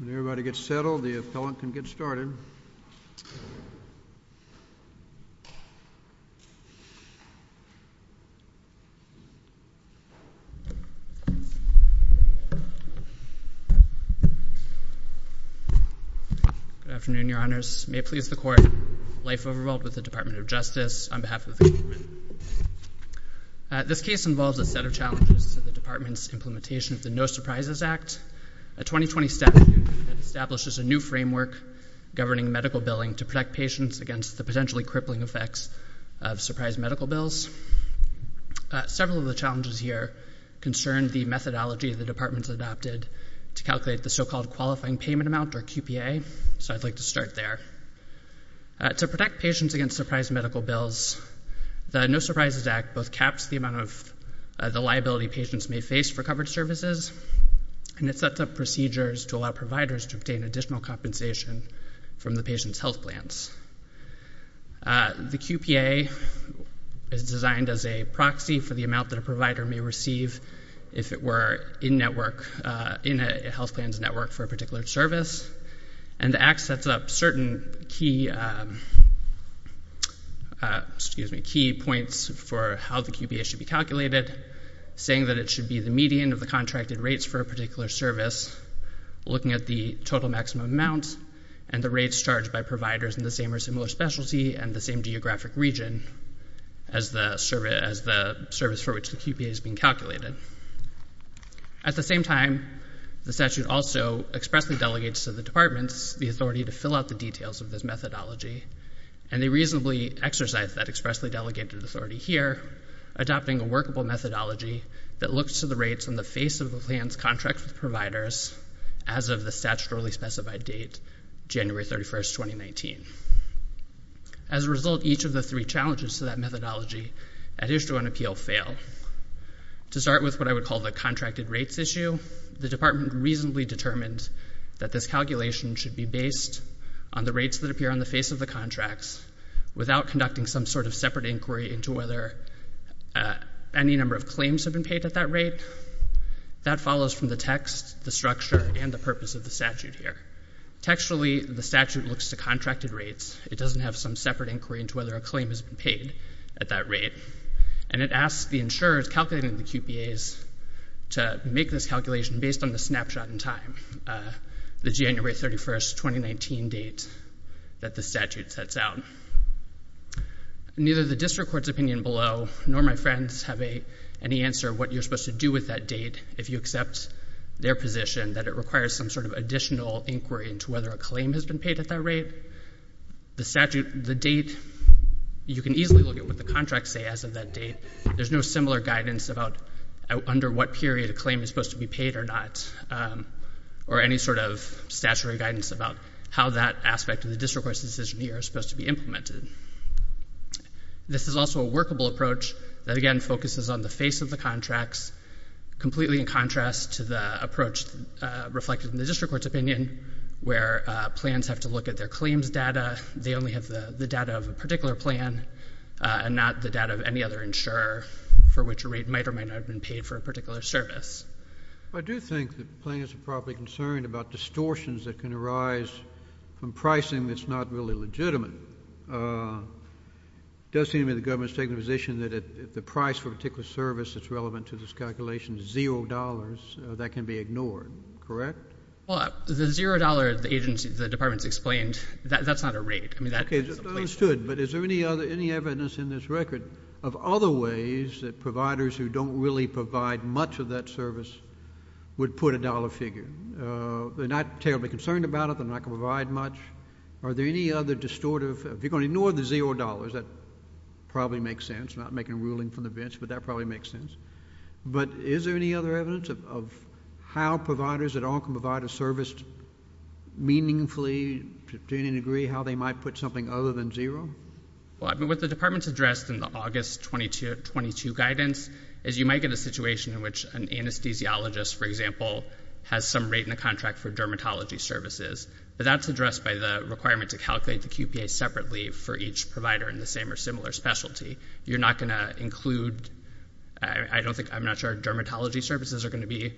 When everybody gets settled, the appellant can get started. Good afternoon, your honors. May it please the court, life overruled with the Department of Justice, on behalf of the government. This case involves a set of challenges to the department's implementation of the No Surprises Act governing medical billing to protect patients against the potentially crippling effects of surprise medical bills. Several of the challenges here concern the methodology the department has adopted to calculate the so-called qualifying payment amount, or QPA, so I'd like to start there. To protect patients against surprise medical bills, the No Surprises Act both caps the amount of the liability patients may face for covered services, and it sets up procedures to allow providers to obtain additional compensation from the patient's health plans. The QPA is designed as a proxy for the amount that a provider may receive if it were in a health plans network for a particular service, and the Act sets up certain key points for how the QPA should be calculated, saying that it should be the median of the contracted rates for a particular service, looking at the total maximum amount and the rates charged by providers in the same or similar specialty and the same geographic region as the service for which the QPA is being calculated. At the same time, the statute also expressly delegates to the departments the authority to fill out the details of this methodology, and they reasonably exercise that expressly delegated authority here, adopting a workable methodology that looks to the rates on the face of the plans contracted with providers as of the statutorily specified date, January 31, 2019. As a result, each of the three challenges to that methodology, additional and appeal, To start with what I would call the contracted rates issue, the department reasonably determined that this calculation should be based on the rates that appear on the face of the contracts without conducting some sort of separate inquiry into whether any number of claims have been paid at that rate. That follows from the text, the structure, and the purpose of the statute here. Textually, the statute looks to contracted rates. It doesn't have some separate inquiry into whether a claim has been paid at that rate. And it asks the insurers calculating the QPAs to make this calculation based on the snapshot in time, the January 31, 2019 date that the statute sets out. Neither the district court's opinion below nor my friends have any answer what you're supposed to do with that date if you accept their position that it requires some sort of additional inquiry into whether a claim has been paid at that rate. The statute, the date, you can easily look at what the contracts say as of that date. There's no similar guidance about under what period a claim is supposed to be paid or not, or any sort of statutory guidance about how that aspect of the district court's decision here is supposed to be implemented. This is also a workable approach that, again, focuses on the face of the contracts completely in contrast to the approach reflected in the district court's opinion where plans have to look at their claims data. They only have the data of a particular plan and not the data of any other insurer for which a rate might or might not have been paid for a particular service. I do think that plaintiffs are probably concerned about distortions that can arise from pricing that's not really legitimate. It does seem to me the government's taking a position that if the price for a particular service that's relevant to this calculation is $0, that can be ignored, correct? Well, the $0, the department's explained, that's not a rate. Okay, understood, but is there any evidence in this record of other ways that providers who don't really provide much of that service would put a dollar figure? They're not terribly concerned about it, they're not going to provide much. Are there any other distortive, if you're going to ignore the $0, that probably makes sense, I'm not making a ruling from the bench, but that probably makes sense. But is there any other evidence of how providers that all can provide a service meaningfully to any degree, how they might put something other than $0? Well, I mean, what the department's addressed in the August 2022 guidance is you might get a situation in which an anesthesiologist, for example, has some rate in the contract for dermatology services, but that's addressed by the requirement to calculate the QPA separately for each provider in the same or similar specialty. You're not going to include, I don't think, I'm not sure dermatology services are going to be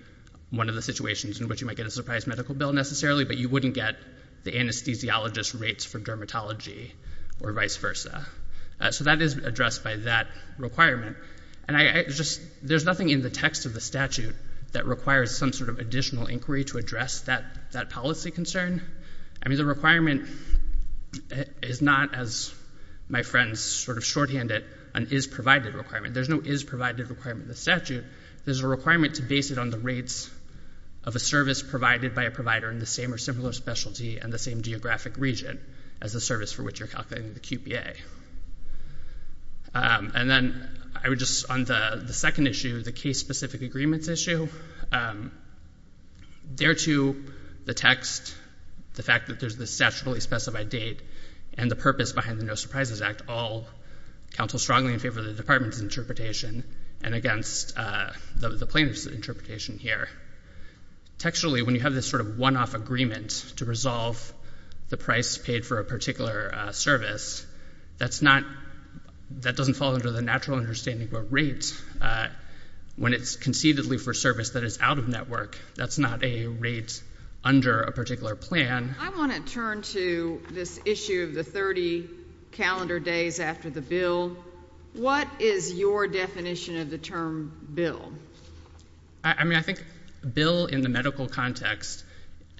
one of the situations in which you might get a surprise medical bill necessarily, but you wouldn't get the anesthesiologist rates for dermatology or vice versa. So that is addressed by that requirement. And I just, there's nothing in the text of the statute that requires some sort of additional inquiry to address that policy concern. I mean, the requirement is not, as my friends sort of shorthand it, an is-provided requirement. There's no is-provided requirement in the statute, there's a requirement to base it on the rates of a service provided by a provider in the same or similar specialty and the same geographic region as the service for which you're calculating the QPA. And then, I would just, on the second issue, the case-specific agreements issue, thereto the text, the fact that there's this statutorily specified date, and the purpose behind the No Surprises Act all counsel strongly in favor of the department's interpretation and against the plaintiff's interpretation here. Texturally, when you have this sort of one-off agreement to resolve the price paid for a That's not, that doesn't fall under the natural understanding of a rate when it's concededly for service that is out of network. That's not a rate under a particular plan. I want to turn to this issue of the 30 calendar days after the bill. What is your definition of the term bill? I mean, I think bill in the medical context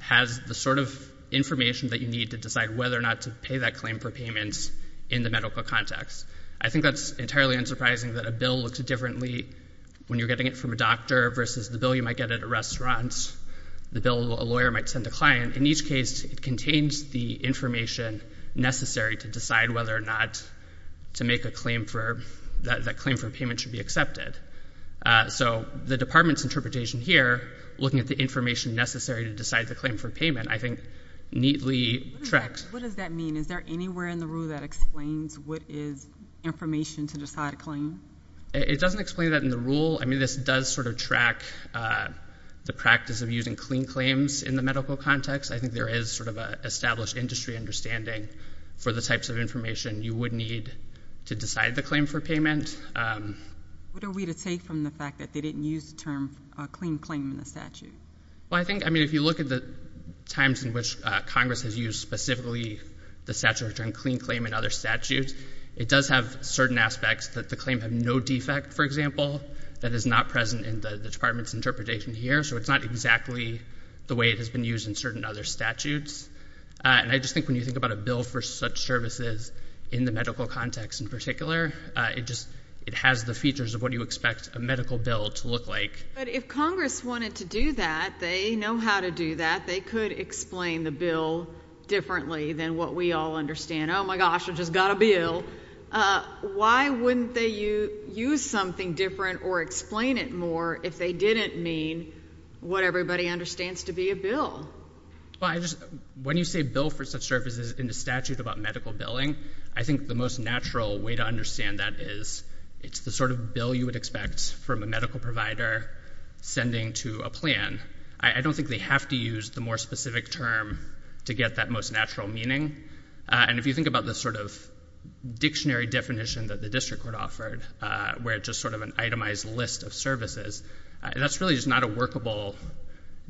has the sort of information that you need to decide whether or not to pay that claim for payments in the medical context. I think that's entirely unsurprising that a bill looks differently when you're getting it from a doctor versus the bill you might get at a restaurant, the bill a lawyer might send a client. In each case, it contains the information necessary to decide whether or not to make a claim for, that claim for payment should be accepted. So the department's interpretation here, looking at the information necessary to decide the claim for payment, I think neatly tracks. What does that mean? Is there anywhere in the rule that explains what is information to decide a claim? It doesn't explain that in the rule. I mean, this does sort of track the practice of using clean claims in the medical context. I think there is sort of a established industry understanding for the types of information you would need to decide the claim for payment. What are we to take from the fact that they didn't use the term clean claim in the statute? Well, I think, I mean, if you look at the times in which Congress has used specifically the statute of clean claim in other statutes, it does have certain aspects that the claim had no defect, for example, that is not present in the department's interpretation here. So it's not exactly the way it has been used in certain other statutes. And I just think when you think about a bill for such services in the medical context in particular, it just, it has the features of what you expect a medical bill to look like. But if Congress wanted to do that, they know how to do that. They could explain the bill differently than what we all understand. Oh my gosh, I just got a bill. Why wouldn't they use something different or explain it more if they didn't mean what everybody understands to be a bill? Well, I just, when you say bill for such services in the statute about medical billing, I think the most natural way to understand that is it's the sort of bill you would expect from a medical provider sending to a plan. I don't think they have to use the more specific term to get that most natural meaning. And if you think about the sort of dictionary definition that the district court offered, where it's just sort of an itemized list of services, that's really just not a workable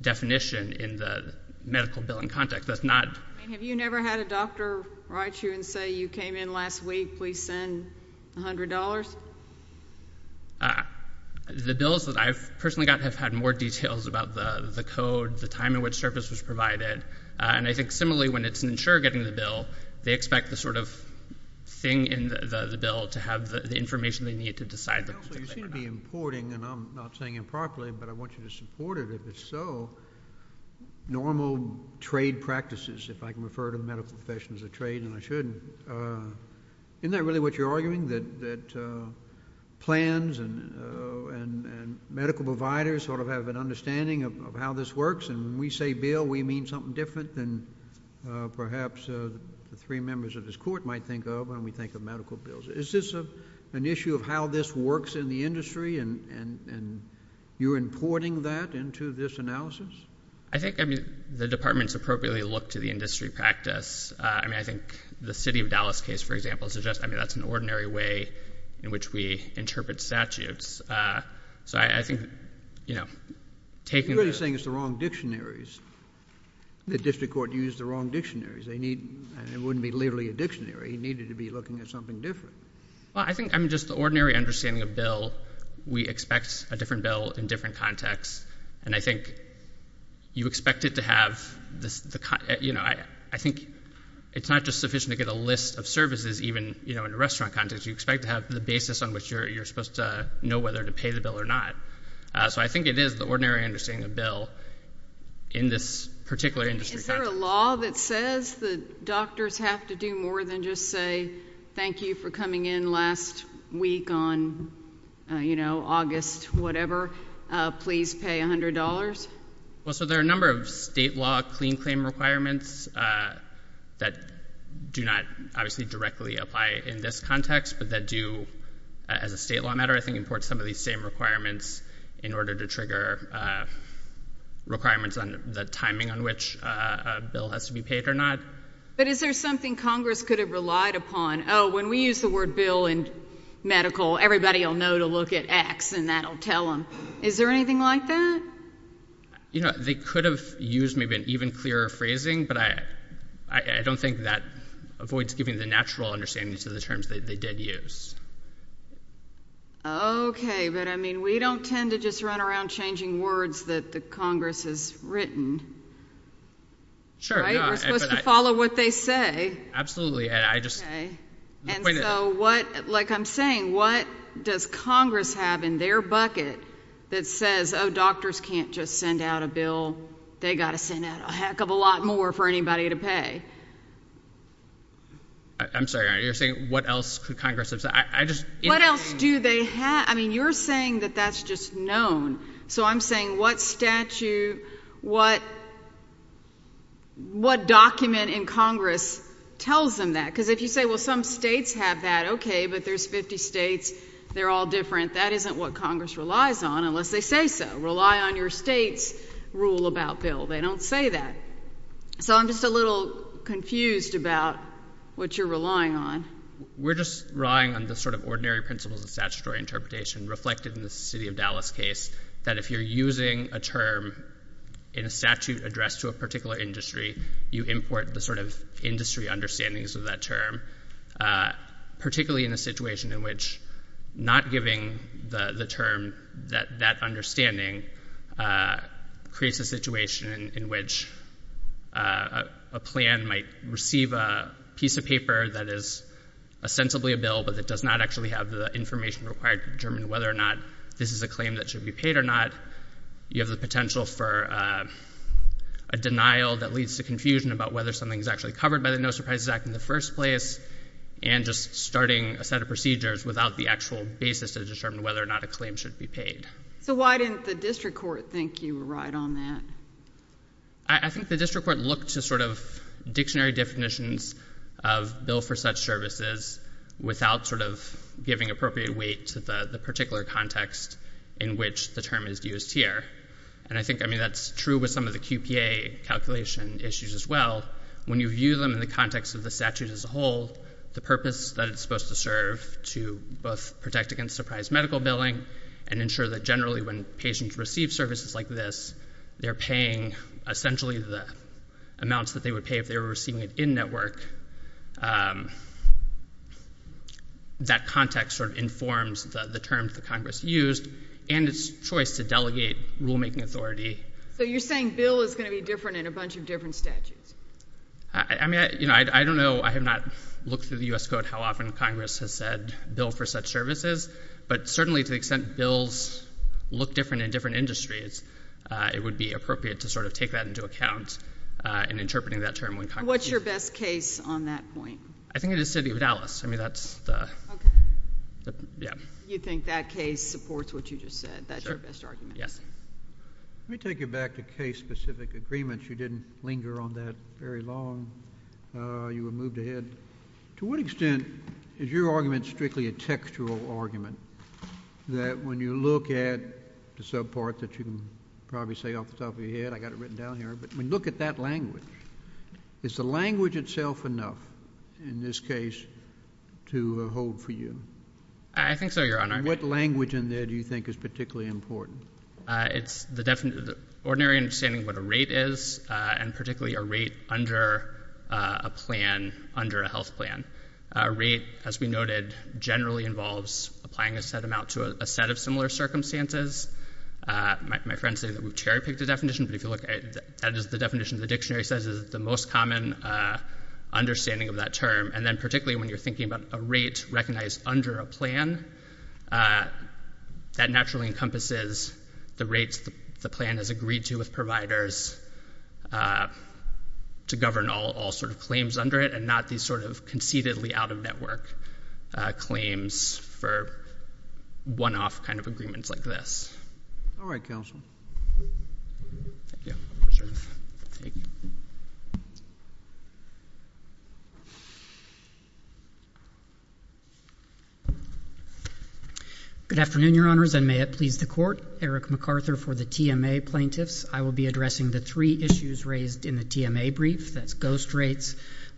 definition in the medical billing context. That's not... I mean, have you never had a doctor write you and say, you came in last week, please send $100? The bills that I've personally got have had more details about the code, the time in which service was provided. And I think similarly, when it's an insurer getting the bill, they expect the sort of thing in the bill to have the information they need to decide the... Counsel, you seem to be importing, and I'm not saying improperly, but I want you to support it if it's so, normal trade practices, if I can refer to medical profession as a trade and I shouldn't. Isn't that really what you're arguing, that plans and medical providers sort of have an understanding of how this works? And when we say bill, we mean something different than perhaps the three members of this court might think of when we think of medical bills. Is this an issue of how this works in the industry, and you're importing that into this analysis? I think the departments appropriately look to the industry practice. I mean, I think the City of Dallas case, for example, suggests, I mean, that's an ordinary way in which we interpret statutes. So I think, you know, taking... You're really saying it's the wrong dictionaries. The district court used the wrong dictionaries. They need... and it wouldn't be literally a dictionary. He needed to be looking at something different. Well, I think, I mean, just the ordinary understanding of bill, we expect a different bill in different contexts. And I think you expect it to have... you know, I think it's not just sufficient to get a list of services even, you know, in a restaurant context. You expect to have the basis on which you're supposed to know whether to pay the bill or not. So I think it is the ordinary understanding of bill in this particular industry context. Is there a law that says that doctors have to do more than just say, thank you for coming in last week on, you know, August whatever, please pay $100? Well, so there are a number of state law clean claim requirements that do not obviously directly apply in this context, but that do, as a state law matter, I think, import some of these same requirements in order to trigger requirements on the timing on which a bill has to be paid or not. But is there something Congress could have relied upon? Oh, when we use the word bill in medical, everybody will know to look at X and that'll tell them. Is there anything like that? You know, they could have used maybe an even clearer phrasing, but I don't think that avoids giving the natural understanding to the terms that they did use. Okay, but I mean, we don't tend to just run around changing words that the Congress has Sure. We're supposed to follow what they say. Absolutely. Okay, and so what, like I'm saying, what does Congress have in their bucket that says, oh, doctors can't just send out a bill, they got to send out a heck of a lot more for anybody to pay? I'm sorry, you're saying what else could Congress have said? What else do they have? I mean, you're saying that that's just known. So I'm saying what statute, what, what document in Congress tells them that? Because if you say, well, some states have that, okay, but there's 50 states, they're all different. That isn't what Congress relies on unless they say so. Rely on your state's rule about bill. They don't say that. So I'm just a little confused about what you're relying on. We're just relying on the sort of ordinary principles of statutory interpretation reflected in the city of Dallas case, that if you're using a term in a statute addressed to a particular industry, you import the sort of industry understandings of that term, particularly in a situation in which not giving the term that that understanding creates a situation in which a plan might receive a piece of paper that is ostensibly a bill, but that does not actually have the information required to determine whether or not this is a claim that should be paid or not. You have the potential for a denial that leads to confusion about whether something's actually covered by the No Surprises Act in the first place, and just starting a set of procedures without the actual basis to determine whether or not a claim should be paid. So why didn't the district court think you were right on that? I think the district court looked to sort of dictionary definitions of bill for such services without sort of giving appropriate weight to the particular context in which the term is used here. And I think, I mean, that's true with some of the QPA calculation issues as well. When you view them in the context of the statute as a whole, the purpose that it's supposed to serve to both protect against surprise medical billing and ensure that generally when patients receive services like this, they're paying essentially the amounts that they would pay if they were receiving it in-network, that context sort of informs the terms that Congress used and its choice to delegate rulemaking authority. So you're saying bill is going to be different in a bunch of different statutes? I mean, I don't know, I have not looked through the U.S. Code how often Congress has said bill for such services, but certainly to the extent bills look different in different industries, it would be appropriate to sort of take that into account in interpreting that term when Congress uses it. What's your best case on that point? I think it is the city of Dallas. I mean, that's the... Okay. Yeah. You think that case supports what you just said? That's your best argument? Yes. Let me take you back to case-specific agreements. You didn't linger on that very long. You were moved ahead. To what extent is your argument strictly a textual argument, that when you look at the part that you can probably say off the top of your head, I got it written down here, but when you look at that language, is the language itself enough in this case to hold for you? I think so, Your Honor. What language in there do you think is particularly important? It's the ordinary understanding of what a rate is, and particularly a rate under a plan, under a health plan. A rate, as we noted, generally involves applying a set amount to a set of similar circumstances. My friends say that we've cherry-picked the definition, but if you look, that is the definition the dictionary says is the most common understanding of that term. And then particularly when you're thinking about a rate recognized under a plan, that naturally encompasses the rates the plan has agreed to with providers to govern all sort of claims under it, and not these sort of conceitedly out-of-network claims for one-off kind of agreements like this. All right, counsel. Thank you. Good afternoon, Your Honors, and may it please the Court. Eric MacArthur for the TMA Plaintiffs. I will be addressing the three issues raised in the TMA brief, that's ghost rates,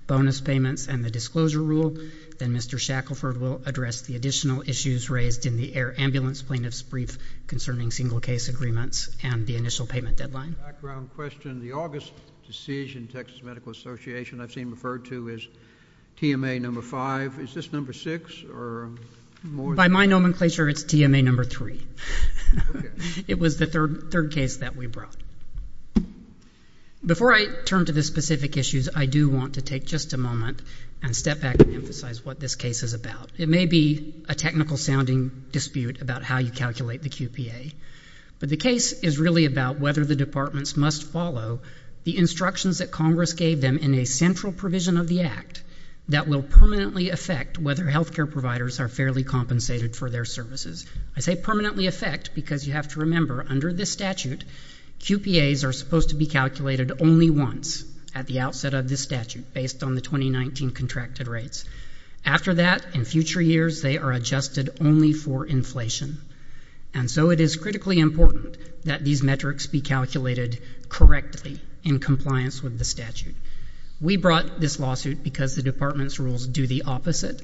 bonus payments, and the disclosure rule. Then Mr. Shackelford will address the additional issues raised in the Air Ambulance Plaintiffs brief concerning single-case agreements and the initial payment deadline. Background question. The August decision, Texas Medical Association, I've seen referred to as TMA number five. Is this number six or more? By my nomenclature, it's TMA number three. Okay. It was the third case that we brought. Before I turn to the specific issues, I do want to take just a moment and step back and emphasize what this case is about. It may be a technical-sounding dispute about how you calculate the QPA, but the case is really about whether the departments must follow the instructions that Congress gave them in a central provision of the Act that will permanently affect whether healthcare providers are fairly compensated for their services. I say permanently affect because you have to remember, under this statute, QPAs are supposed to be calculated only once at the outset of this statute based on the 2019 contracted rates. After that, in future years, they are adjusted only for inflation. And so it is critically important that these metrics be calculated correctly in compliance with the statute. We brought this lawsuit because the department's rules do the opposite.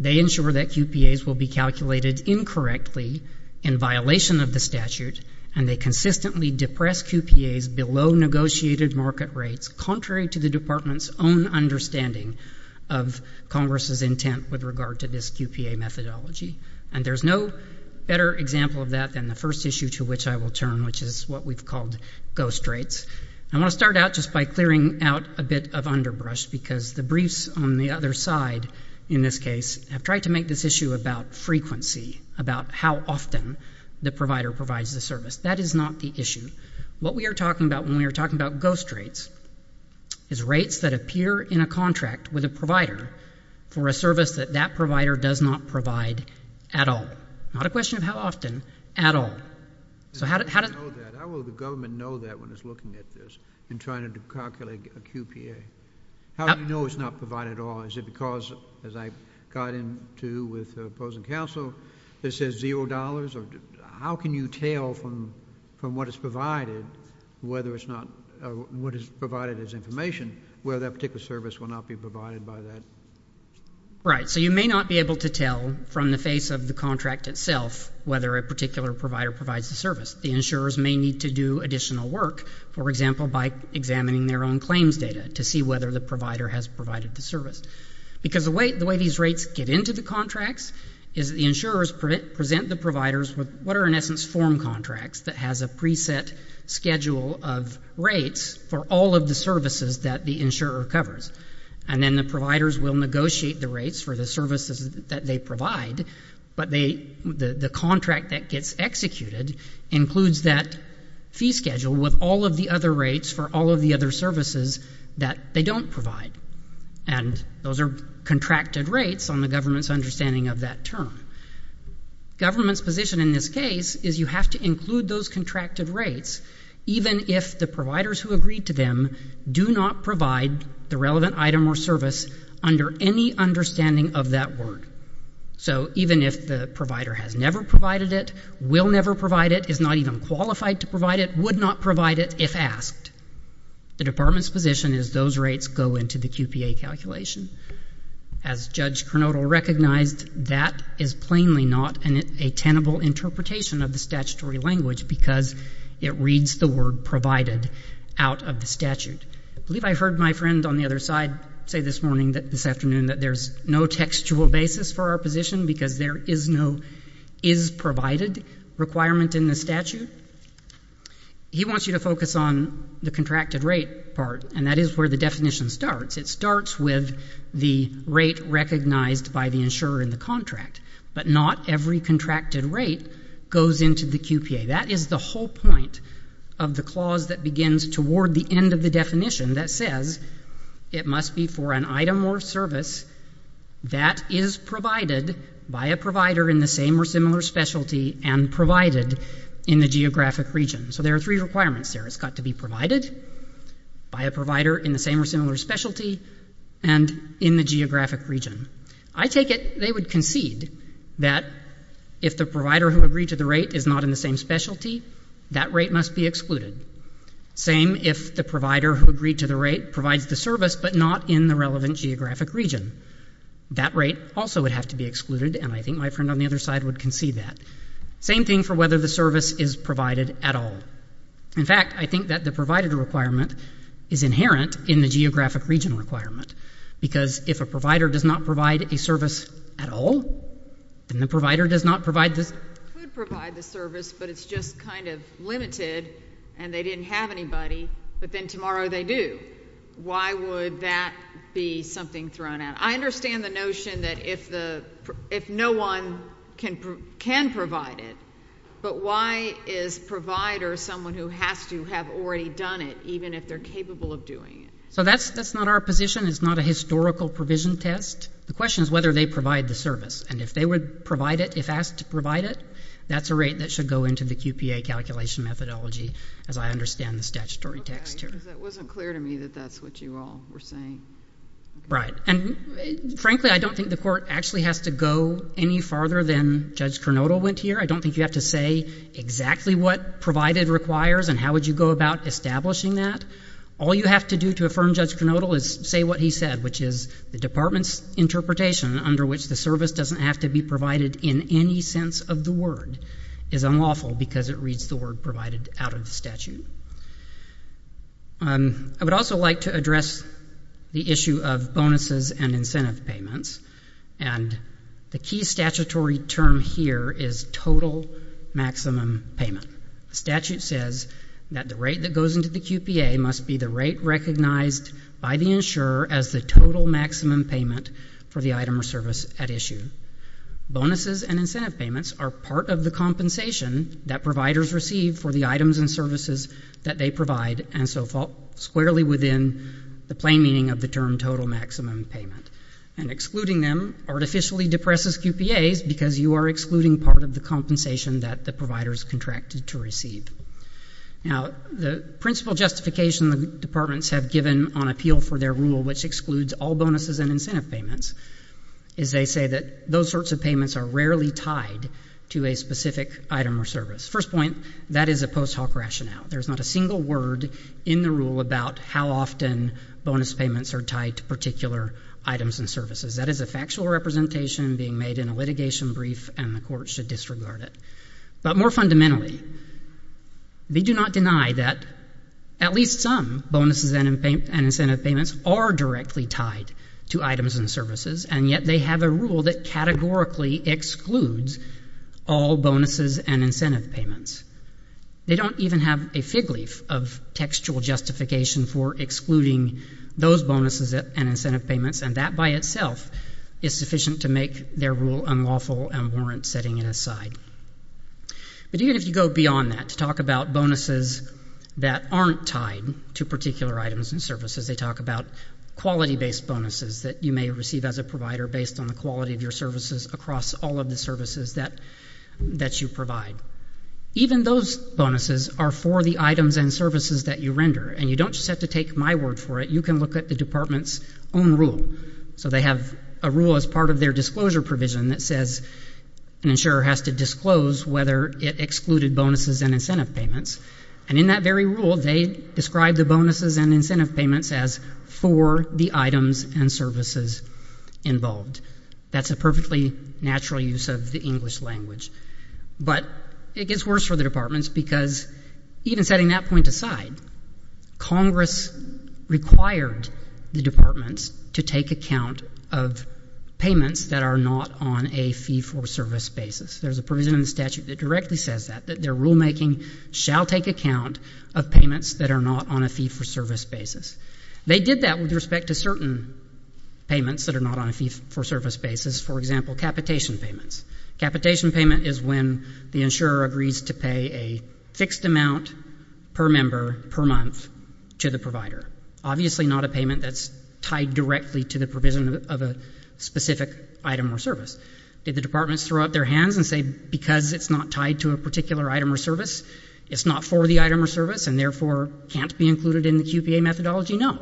They ensure that QPAs will be calculated incorrectly in violation of the statute, and they consistently depress QPAs below negotiated market rates, contrary to the department's own understanding of Congress's intent with regard to this QPA methodology. And there's no better example of that than the first issue to which I will turn, which is what we've called ghost rates. I want to start out just by clearing out a bit of underbrush because the briefs on the other side, in this case, have tried to make this issue about frequency, about how often the provider provides the service. That is not the issue. What we are talking about when we are talking about ghost rates is rates that appear in a contract with a provider for a service that that provider does not provide at all. Not a question of how often, at all. So how does... How will the government know that when it's looking at this and trying to calculate a QPA? How do you know it's not provided at all? Is it because, as I got into with opposing counsel, this says zero dollars? How can you tell from what is provided whether it's not... What is provided as information, whether that particular service will not be provided by that? Right. So you may not be able to tell from the face of the contract itself whether a particular provider provides the service. The insurers may need to do additional work, for example, by examining their own claims data to see whether the provider has provided the service. Because the way these rates get into the contracts is the insurers present the providers with what are, in essence, form contracts that has a preset schedule of rates for all of the services that the insurer covers. And then the providers will negotiate the rates for the services that they provide, but the contract that gets executed includes that fee schedule with all of the other rates for all of the other services that they don't provide. And those are contracted rates on the government's understanding of that term. Government's position in this case is you have to include those contracted rates even if the providers who agreed to them do not provide the relevant item or service under any understanding of that word. So even if the provider has never provided it, will never provide it, is not even qualified to provide it, would not provide it if asked. The department's position is those rates go into the QPA calculation. As Judge Kernodle recognized, that is plainly not a tenable interpretation of the statutory language because it reads the word provided out of the statute. I believe I heard my friend on the other side say this morning, this afternoon, that there's no textual basis for our position because there is no is provided requirement in the statute. He wants you to focus on the contracted rate part, and that is where the definition starts. It starts with the rate recognized by the insurer in the contract. But not every contracted rate goes into the QPA. That is the whole point of the clause that begins toward the end of the definition that says it must be for an item or service that is provided by a provider in the same or similar specialty and provided in the geographic region. So there are three requirements there. It's got to be provided by a provider in the same or similar specialty and in the geographic region. I take it they would concede that if the provider who agreed to the rate is not in the same specialty, that rate must be excluded. Same if the provider who agreed to the rate provides the service but not in the relevant geographic region. That rate also would have to be excluded, and I think my friend on the other side would concede that. Same thing for whether the service is provided at all. In fact, I think that the provided requirement is inherent in the geographic region requirement because if a provider does not provide a service at all, then the provider does not provide The provider could provide the service, but it's just kind of limited, and they didn't have anybody, but then tomorrow they do. Why would that be something thrown out? I understand the notion that if no one can provide it, but why is provider someone who has to have already done it, even if they're capable of doing it? So that's not our position. It's not a historical provision test. The question is whether they provide the service, and if they would provide it, if asked to provide it, that's a rate that should go into the QPA calculation methodology, as I understand the statutory text here. Because it wasn't clear to me that that's what you all were saying. Right. And frankly, I don't think the Court actually has to go any farther than Judge Kernodle went here. I don't think you have to say exactly what provided requires and how would you go about establishing that. All you have to do to affirm Judge Kernodle is say what he said, which is the Department's interpretation under which the service doesn't have to be provided in any sense of the word is unlawful because it reads the word provided out of the statute. I would also like to address the issue of bonuses and incentive payments, and the key statutory term here is total maximum payment. The statute says that the rate that goes into the QPA must be the rate recognized by the insurer as the total maximum payment for the item or service at issue. Bonuses and incentive payments are part of the compensation that providers receive for the items and services that they provide, and so fall squarely within the plain meaning of the term total maximum payment, and excluding them artificially depresses QPAs because you are excluding part of the compensation that the provider is contracted to receive. Now, the principal justification the departments have given on appeal for their rule, which excludes all bonuses and incentive payments, is they say that those sorts of payments are rarely tied to a specific item or service. First point, that is a post hoc rationale. There's not a single word in the rule about how often bonus payments are tied to particular items and services. That is a factual representation being made in a litigation brief, and the court should disregard it. But more fundamentally, they do not deny that at least some bonuses and incentive payments are directly tied to items and services, and yet they have a rule that categorically excludes all bonuses and incentive payments. They don't even have a fig leaf of textual justification for excluding those bonuses and incentive payments, and that by itself is sufficient to make their rule unlawful and warrant setting it aside. But even if you go beyond that to talk about bonuses that aren't tied to particular items and services, they talk about quality-based bonuses that you may receive as a provider based on the quality of your services across all of the services that you provide. Even those bonuses are for the items and services that you render, and you don't just have to take my word for it. You can look at the department's own rule. So they have a rule as part of their disclosure provision that says an insurer has to disclose whether it excluded bonuses and incentive payments, and in that very rule, they describe the bonuses and incentive payments as for the items and services involved. That's a perfectly natural use of the English language. But it gets worse for the departments because even setting that point aside, Congress required the departments to take account of payments that are not on a fee-for-service basis. There's a provision in the statute that directly says that, that their rulemaking shall take account of payments that are not on a fee-for-service basis. They did that with respect to certain payments that are not on a fee-for-service basis, for example, capitation payments. Capitation payment is when the insurer agrees to pay a fixed amount per member per month to the provider, obviously not a payment that's tied directly to the provision of a specific item or service. Did the departments throw up their hands and say, because it's not tied to a particular item or service, it's not for the item or service, and therefore can't be included in the QPA methodology? No.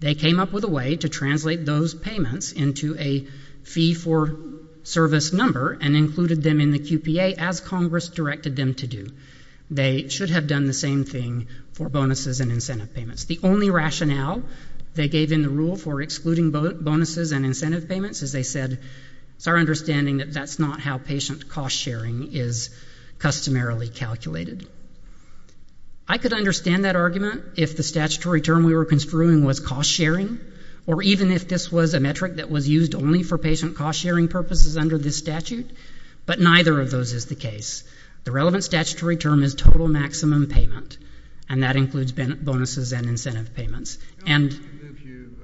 They came up with a way to translate those payments into a fee-for-service number and included them in the QPA as Congress directed them to do. They should have done the same thing for bonuses and incentive payments. The only rationale they gave in the rule for excluding bonuses and incentive payments is they said, it's our understanding that that's not how patient cost-sharing is customarily calculated. I could understand that argument if the statutory term we were construing was cost-sharing, or even if this was a metric that was used only for patient cost-sharing purposes under this statute, but neither of those is the case. The relevant statutory term is total maximum payment, and that includes bonuses and incentive payments. And... I want to move you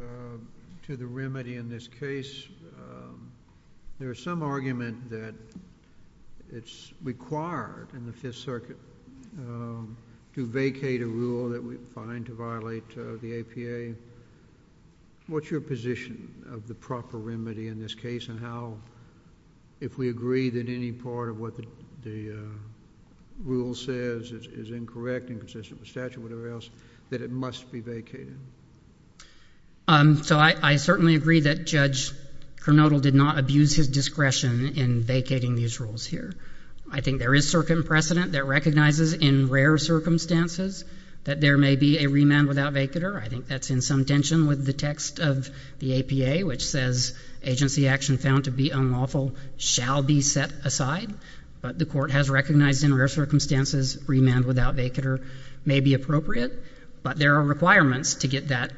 to the remedy in this case. There is some argument that it's required in the Fifth Circuit to vacate a rule that we find to violate the APA. What's your position of the proper remedy in this case, and how, if we agree that any part of what the rule says is incorrect and inconsistent with statute or whatever else, that it must be vacated? So I certainly agree that Judge Kernodle did not abuse his discretion in vacating these rules here. I think there is precedent that recognizes in rare circumstances that there may be a remand without vacater. I think that's in some tension with the text of the APA, which says, agency action found to be unlawful shall be set aside. But the Court has recognized in rare circumstances remand without vacater may be appropriate. But there are requirements to get that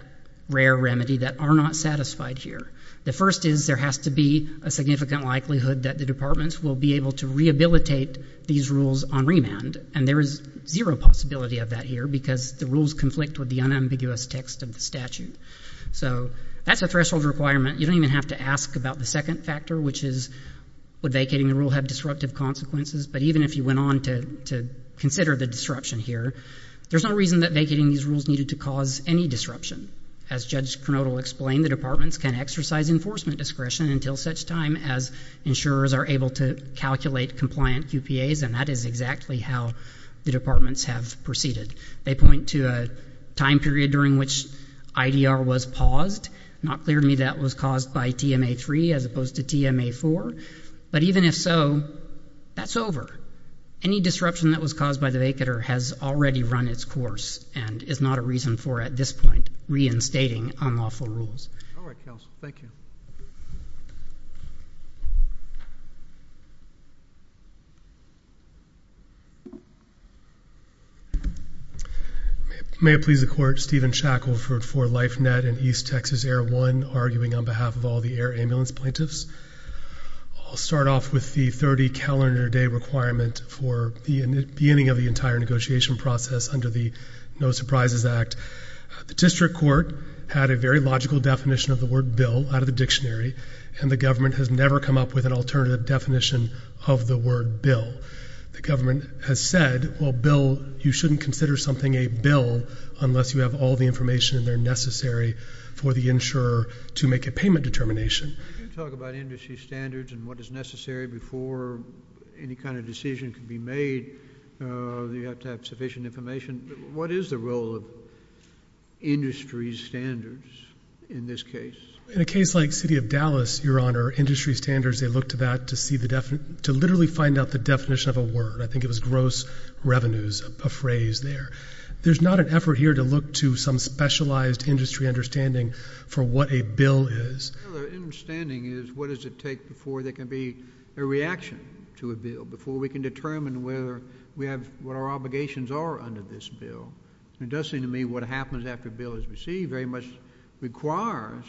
rare remedy that are not satisfied here. The first is there has to be a significant likelihood that the departments will be able to rehabilitate these rules on remand, and there is zero possibility of that here because the rules conflict with the unambiguous text of the statute. So that's a threshold requirement. You don't even have to ask about the second factor, which is, would vacating the rule have disruptive consequences? But even if you went on to consider the disruption here, there's no reason that vacating these rules needed to cause any disruption. As Judge Kernodle explained, the departments can exercise enforcement discretion until such time as insurers are able to calculate compliant QPAs, and that is exactly how the departments have proceeded. They point to a time period during which IDR was paused. Not clear to me that it was caused by TMA-3 as opposed to TMA-4. But even if so, that's over. Any disruption that was caused by the vacater has already run its course and is not a reason for, at this point, reinstating unlawful rules. All right, Counsel. Thank you. May it please the Court, Stephen Shackelford for LifeNet and East Texas Air One, arguing on behalf of all the air ambulance plaintiffs. I'll start off with the 30 calendar day requirement for the beginning of the entire negotiation process under the No Surprises Act. The district court had a very logical definition of the word bill out of the dictionary, and the government has never come up with an alternative definition of the word bill. The government has said, well, bill, you shouldn't consider something a bill unless you have all the information in there necessary for the insurer to make a payment determination. You talk about industry standards and what is necessary before any kind of decision can be made. You have to have sufficient information. What is the role of industry standards in this case? In a case like City of Dallas, Your Honor, industry standards, they look to that to literally find out the definition of a word. I think it was gross revenues, a phrase there. There's not an effort here to look to some specialized industry understanding for what a bill is. The understanding is what does it take before there can be a reaction to a bill, before we can determine what our obligations are under this bill. It does seem to me what happens after a bill is received very much requires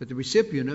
that the recipient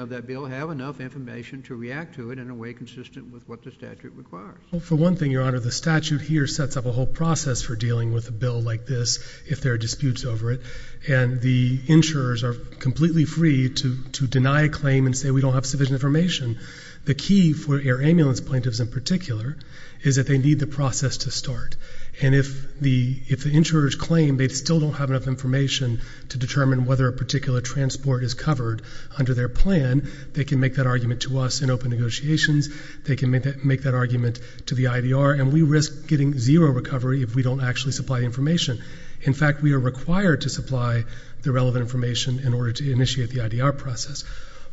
of that bill have enough information to react to it in a way consistent with what the statute requires. Well, for one thing, Your Honor, the statute here sets up a whole process for dealing with a bill like this if there are disputes over it, and the insurers are completely free to deny a claim and say we don't have sufficient information. The key for air ambulance plaintiffs in particular is that they need the process to start, and if the insurers claim they still don't have enough information to determine whether a particular transport is covered under their plan, they can make that argument to us in open negotiations. They can make that argument to the IDR, and we risk getting zero recovery if we don't actually supply the information. In fact, we are required to supply the relevant information in order to initiate the IDR process. So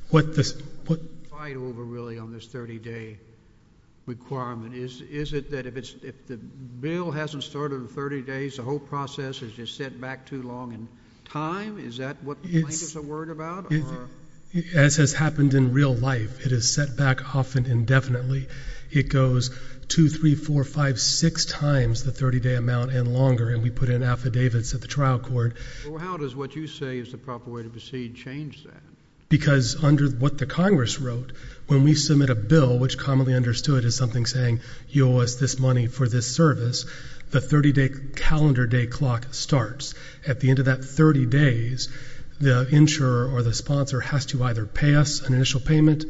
what is the fight over, really, on this 30-day requirement? Is it that if the bill hasn't started in 30 days, the whole process is just set back too long in time? Is that what the plaintiffs are worried about? As has happened in real life, it is set back often indefinitely. It goes 2, 3, 4, 5, 6 times the 30-day amount and longer, and we put in affidavits at the trial court. How does what you say is the proper way to proceed change that? Because under what the Congress wrote, when we submit a bill, which commonly understood as something saying, you owe us this money for this service, the 30-day calendar day clock starts. At the end of that 30 days, the insurer or the sponsor has to either pay us an initial payment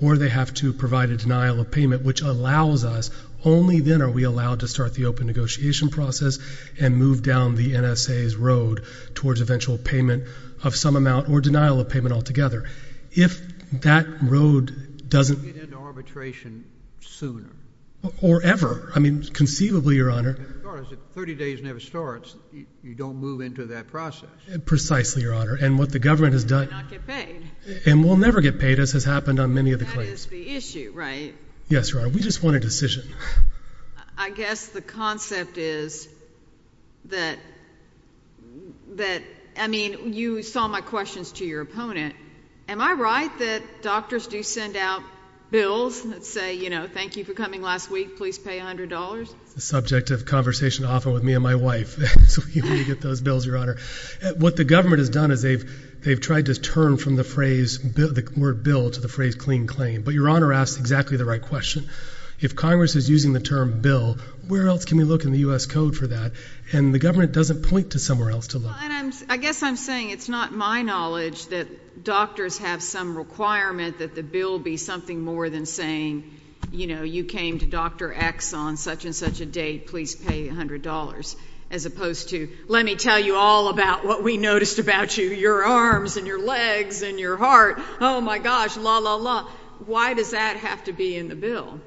or they have to provide a denial of payment, which allows us, only then are we allowed to start the open negotiation process and move down the NSA's road towards eventual payment of some amount or denial of payment altogether. If that road doesn't— You get into arbitration sooner. Or ever. I mean, conceivably, Your Honor— As far as if 30 days never starts, you don't move into that process. Precisely, Your Honor. And what the government has done— You may not get paid. And we'll never get paid, as has happened on many of the claims. That is the issue, right? Yes, Your Honor. We just want a decision. I guess the concept is that—I mean, you saw my questions to your opponent. Am I right that doctors do send out bills that say, you know, thank you for coming last week, please pay $100? It's the subject of conversation often with me and my wife, so we get those bills, Your What the government has done is they've tried to turn from the phrase, the word bill, to the phrase clean claim. But Your Honor asks exactly the right question. If Congress is using the term bill, where else can we look in the U.S. Code for that? And the government doesn't point to somewhere else to look. I guess I'm saying it's not my knowledge that doctors have some requirement that the bill be something more than saying, you know, you came to Dr. X on such and such a date, please pay $100. As opposed to, let me tell you all about what we noticed about you, your arms and your legs and your heart. Oh my gosh, la la la. Why does that have to be in the bill?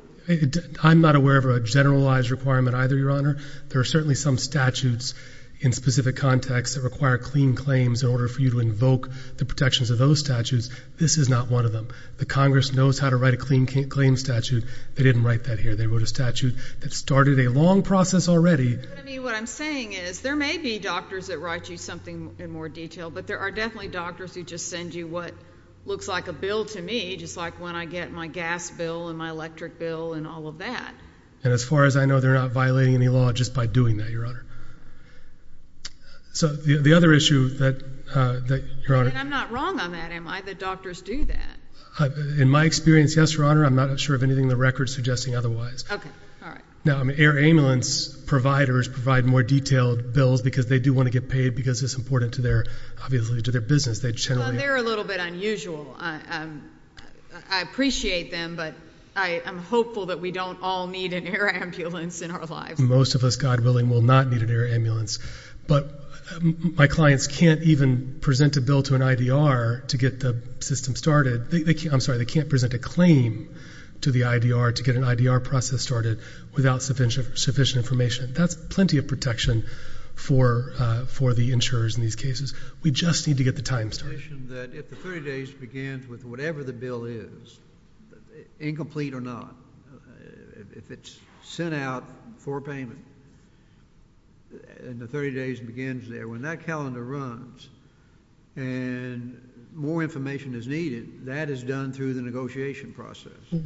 I'm not aware of a generalized requirement either, Your Honor. There are certainly some statutes in specific contexts that require clean claims in order for you to invoke the protections of those statutes. This is not one of them. The Congress knows how to write a clean claim statute. They didn't write that here. They wrote a statute that started a long process already. I mean, what I'm saying is there may be doctors that write you something in more detail, but there are definitely doctors who just send you what looks like a bill to me, just like when I get my gas bill and my electric bill and all of that. And as far as I know, they're not violating any law just by doing that, Your Honor. So the other issue that, Your Honor. And I'm not wrong on that, am I, that doctors do that? In my experience, yes, Your Honor. I'm not sure of anything in the record suggesting otherwise. Okay. All right. Now, I mean, air ambulance providers provide more detailed bills because they do want to get paid because it's important to their, obviously, to their business. They generally- Well, they're a little bit unusual. I appreciate them, but I'm hopeful that we don't all need an air ambulance in our lives. Most of us, God willing, will not need an air ambulance. But my clients can't even present a bill to an IDR to get the system started. I'm sorry, they can't present a claim to the IDR to get an IDR process started without sufficient information. That's plenty of protection for the insurers in these cases. We just need to get the time started. I just want to mention that if the 30 days begins with whatever the bill is, incomplete or not, if it's sent out for payment and the 30 days begins there, when that calendar runs and more information is needed, that is done through the negotiation process. Is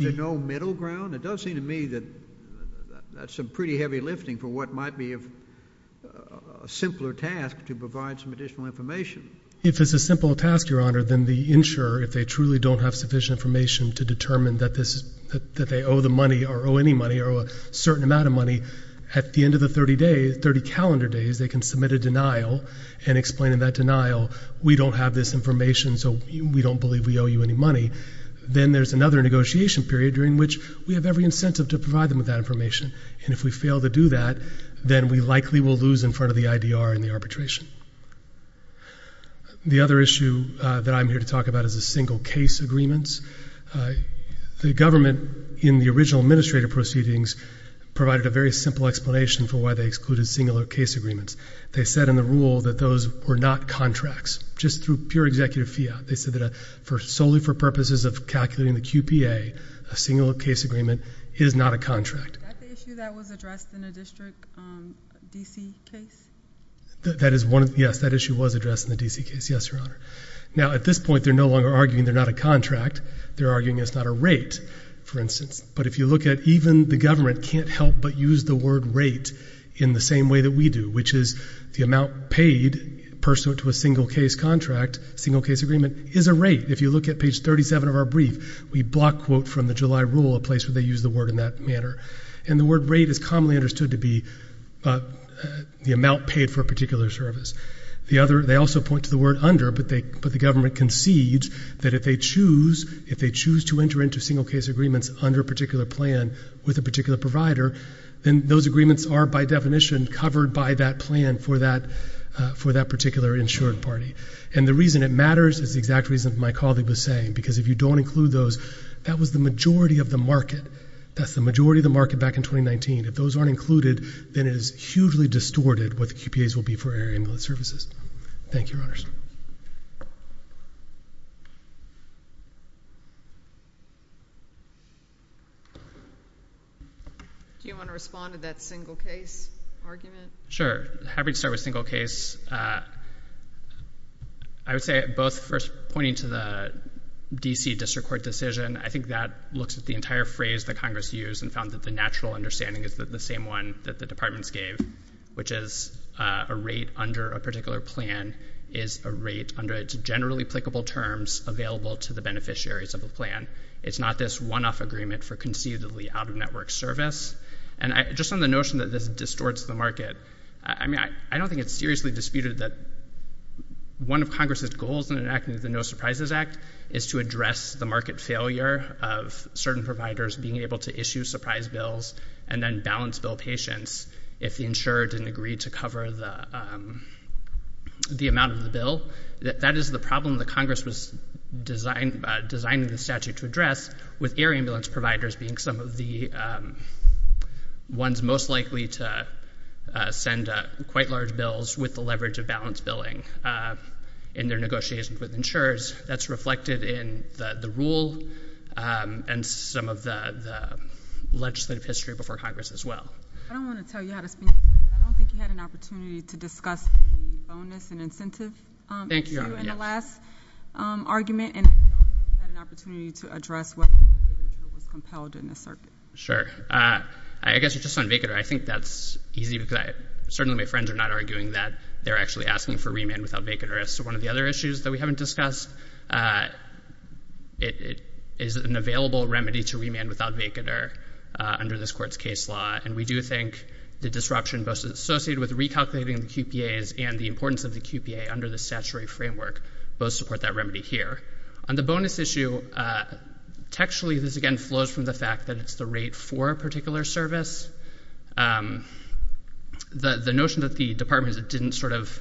there no middle ground? It does seem to me that that's some pretty heavy lifting for what might be a simpler task to provide some additional information. If it's a simple task, Your Honor, then the insurer, if they truly don't have sufficient information to determine that they owe the money or owe any money or owe a certain amount of money, at the end of the 30 days, 30 calendar days, they can submit a denial and explain in that denial, we don't have this information, so we don't believe we owe you any money. Then there's another negotiation period during which we have every incentive to provide them with that information. And if we fail to do that, then we likely will lose in front of the IDR and the arbitration. The other issue that I'm here to talk about is the single case agreements. The government, in the original administrative proceedings, provided a very simple explanation for why they excluded singular case agreements. They said in the rule that those were not contracts, just through pure executive fiat. They said that solely for purposes of calculating the QPA, a singular case agreement is not a contract. Is that the issue that was addressed in the district DC case? That is one, yes, that issue was addressed in the DC case, yes, Your Honor. Now at this point, they're no longer arguing they're not a contract. They're arguing it's not a rate, for instance. But if you look at, even the government can't help but use the word rate in the same way that we do, which is the amount paid pursuant to a single case contract, single case agreement, is a rate. If you look at page 37 of our brief, we block quote from the July rule, a place where they use the word in that manner. And the word rate is commonly understood to be the amount paid for a particular service. The other, they also point to the word under, but the government concedes that if they choose to enter into single case agreements under a particular plan with a particular provider, then those agreements are by definition covered by that plan for that particular insured party. And the reason it matters is the exact reason my colleague was saying, because if you don't include those, that was the majority of the market. That's the majority of the market back in 2019. If those aren't included, then it is hugely distorted what the QPAs will be for air ambulance services. Thank you, Your Honors. Do you want to respond to that single case argument? Sure. I would start with single case. I would say both first pointing to the D.C. District Court decision, I think that looks at the entire phrase that Congress used and found that the natural understanding is that the same one that the departments gave, which is a rate under a particular plan, is a rate under its generally applicable terms available to the beneficiaries of the plan. It's not this one-off agreement for conceivably out-of-network service. And just on the notion that this distorts the market, I mean, I don't think it's seriously disputed that one of Congress's goals in enacting the No Surprises Act is to address the market failure of certain providers being able to issue surprise bills and then balance bill patients if the insurer didn't agree to cover the amount of the bill. That is the problem that Congress was designing the statute to address with air ambulance providers being some of the ones most likely to send quite large bills with the leverage of balanced billing in their negotiations with insurers. That's reflected in the rule and some of the legislative history before Congress as well. I don't want to tell you how to speak, but I don't think you had an opportunity to discuss the bonus and incentive issue in the last argument, and I don't think you had an opportunity to address what was compelled in the circuit. Sure. I guess just on VACADOR, I think that's easy because certainly my friends are not arguing that they're actually asking for remand without VACADOR. So one of the other issues that we haven't discussed, it is an available remedy to remand without VACADOR under this Court's case law, and we do think the disruption associated with recalculating the QPAs and the importance of the QPA under the statutory framework both support that remedy here. On the bonus issue, textually, this again flows from the fact that it's the rate for a particular service. The notion that the Department didn't sort of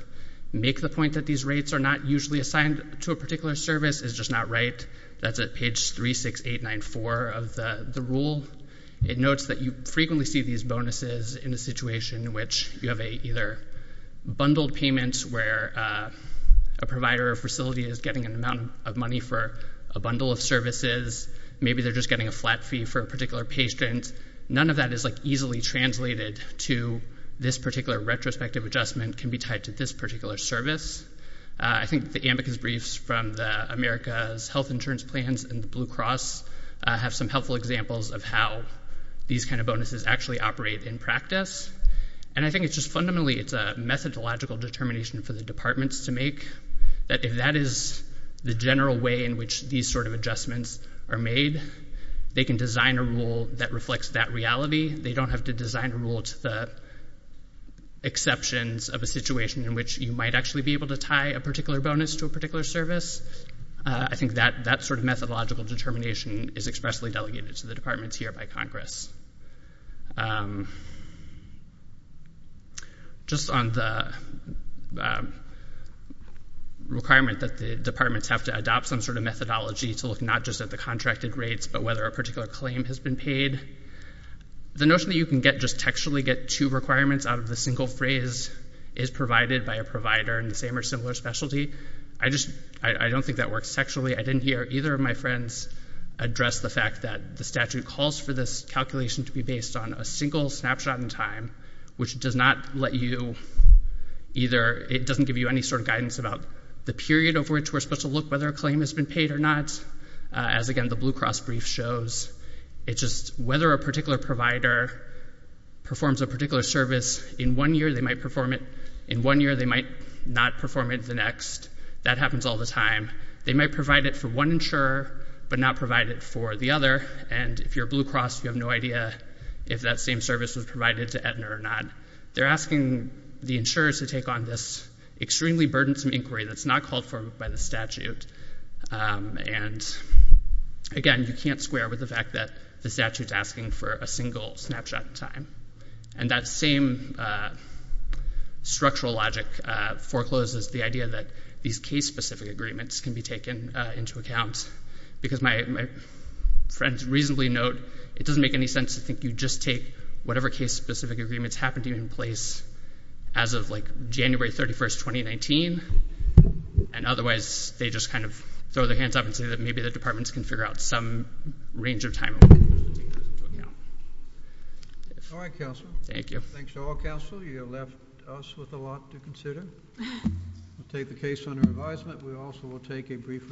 make the point that these rates are not usually assigned to a particular service is just not right. That's at page 36894 of the rule. It notes that you frequently see these bonuses in a situation in which you have either bundled payments where a provider or facility is getting an amount of money for a bundle of services. Maybe they're just getting a flat fee for a particular patient. None of that is easily translated to this particular retrospective adjustment can be tied to this particular service. I think the amicus briefs from the America's Health Insurance Plans and the Blue Cross have some helpful examples of how these kind of bonuses actually operate in practice. And I think it's just fundamentally, it's a methodological determination for the departments to make that if that is the general way in which these sort of adjustments are made, they can design a rule that reflects that reality. They don't have to design a rule to the exceptions of a situation in which you might actually be able to tie a particular bonus to a particular service. I think that that sort of methodological determination is expressly delegated to the departments here by Congress. Just on the requirement that the departments have to adopt some sort of methodology to look not just at the contracted rates, but whether a particular claim has been paid. The notion that you can get just textually get two requirements out of the single phrase is provided by a provider in the same or similar specialty. I just, I don't think that works textually. I didn't hear either of my friends address the fact that the statute calls for this calculation to be based on a single snapshot in time, which does not let you either, it doesn't give you any sort of guidance about the period of which we're supposed to look whether a claim has been paid or not. As again, the Blue Cross brief shows, it's just whether a particular provider performs a particular service in one year, they might perform it in one year, they might not perform it the next. That happens all the time. They might provide it for one insurer, but not provide it for the other. And if you're Blue Cross, you have no idea if that same service was provided to Aetna or not. They're asking the insurers to take on this extremely burdensome inquiry that's not called for by the statute. And again, you can't square with the fact that the statute's asking for a single snapshot in time. And that same structural logic forecloses the idea that these case-specific agreements can be taken into account. Because my friends reasonably note, it doesn't make any sense to think you just take whatever case-specific agreements happen to be in place as of like January 31st, 2019, and otherwise they just kind of throw their hands up and say that maybe the departments can figure out some range of time. All right, counsel. Thank you. Thanks to all counsel. You have left us with a lot to consider. We'll take the case under advisement. We also will take a brief recess.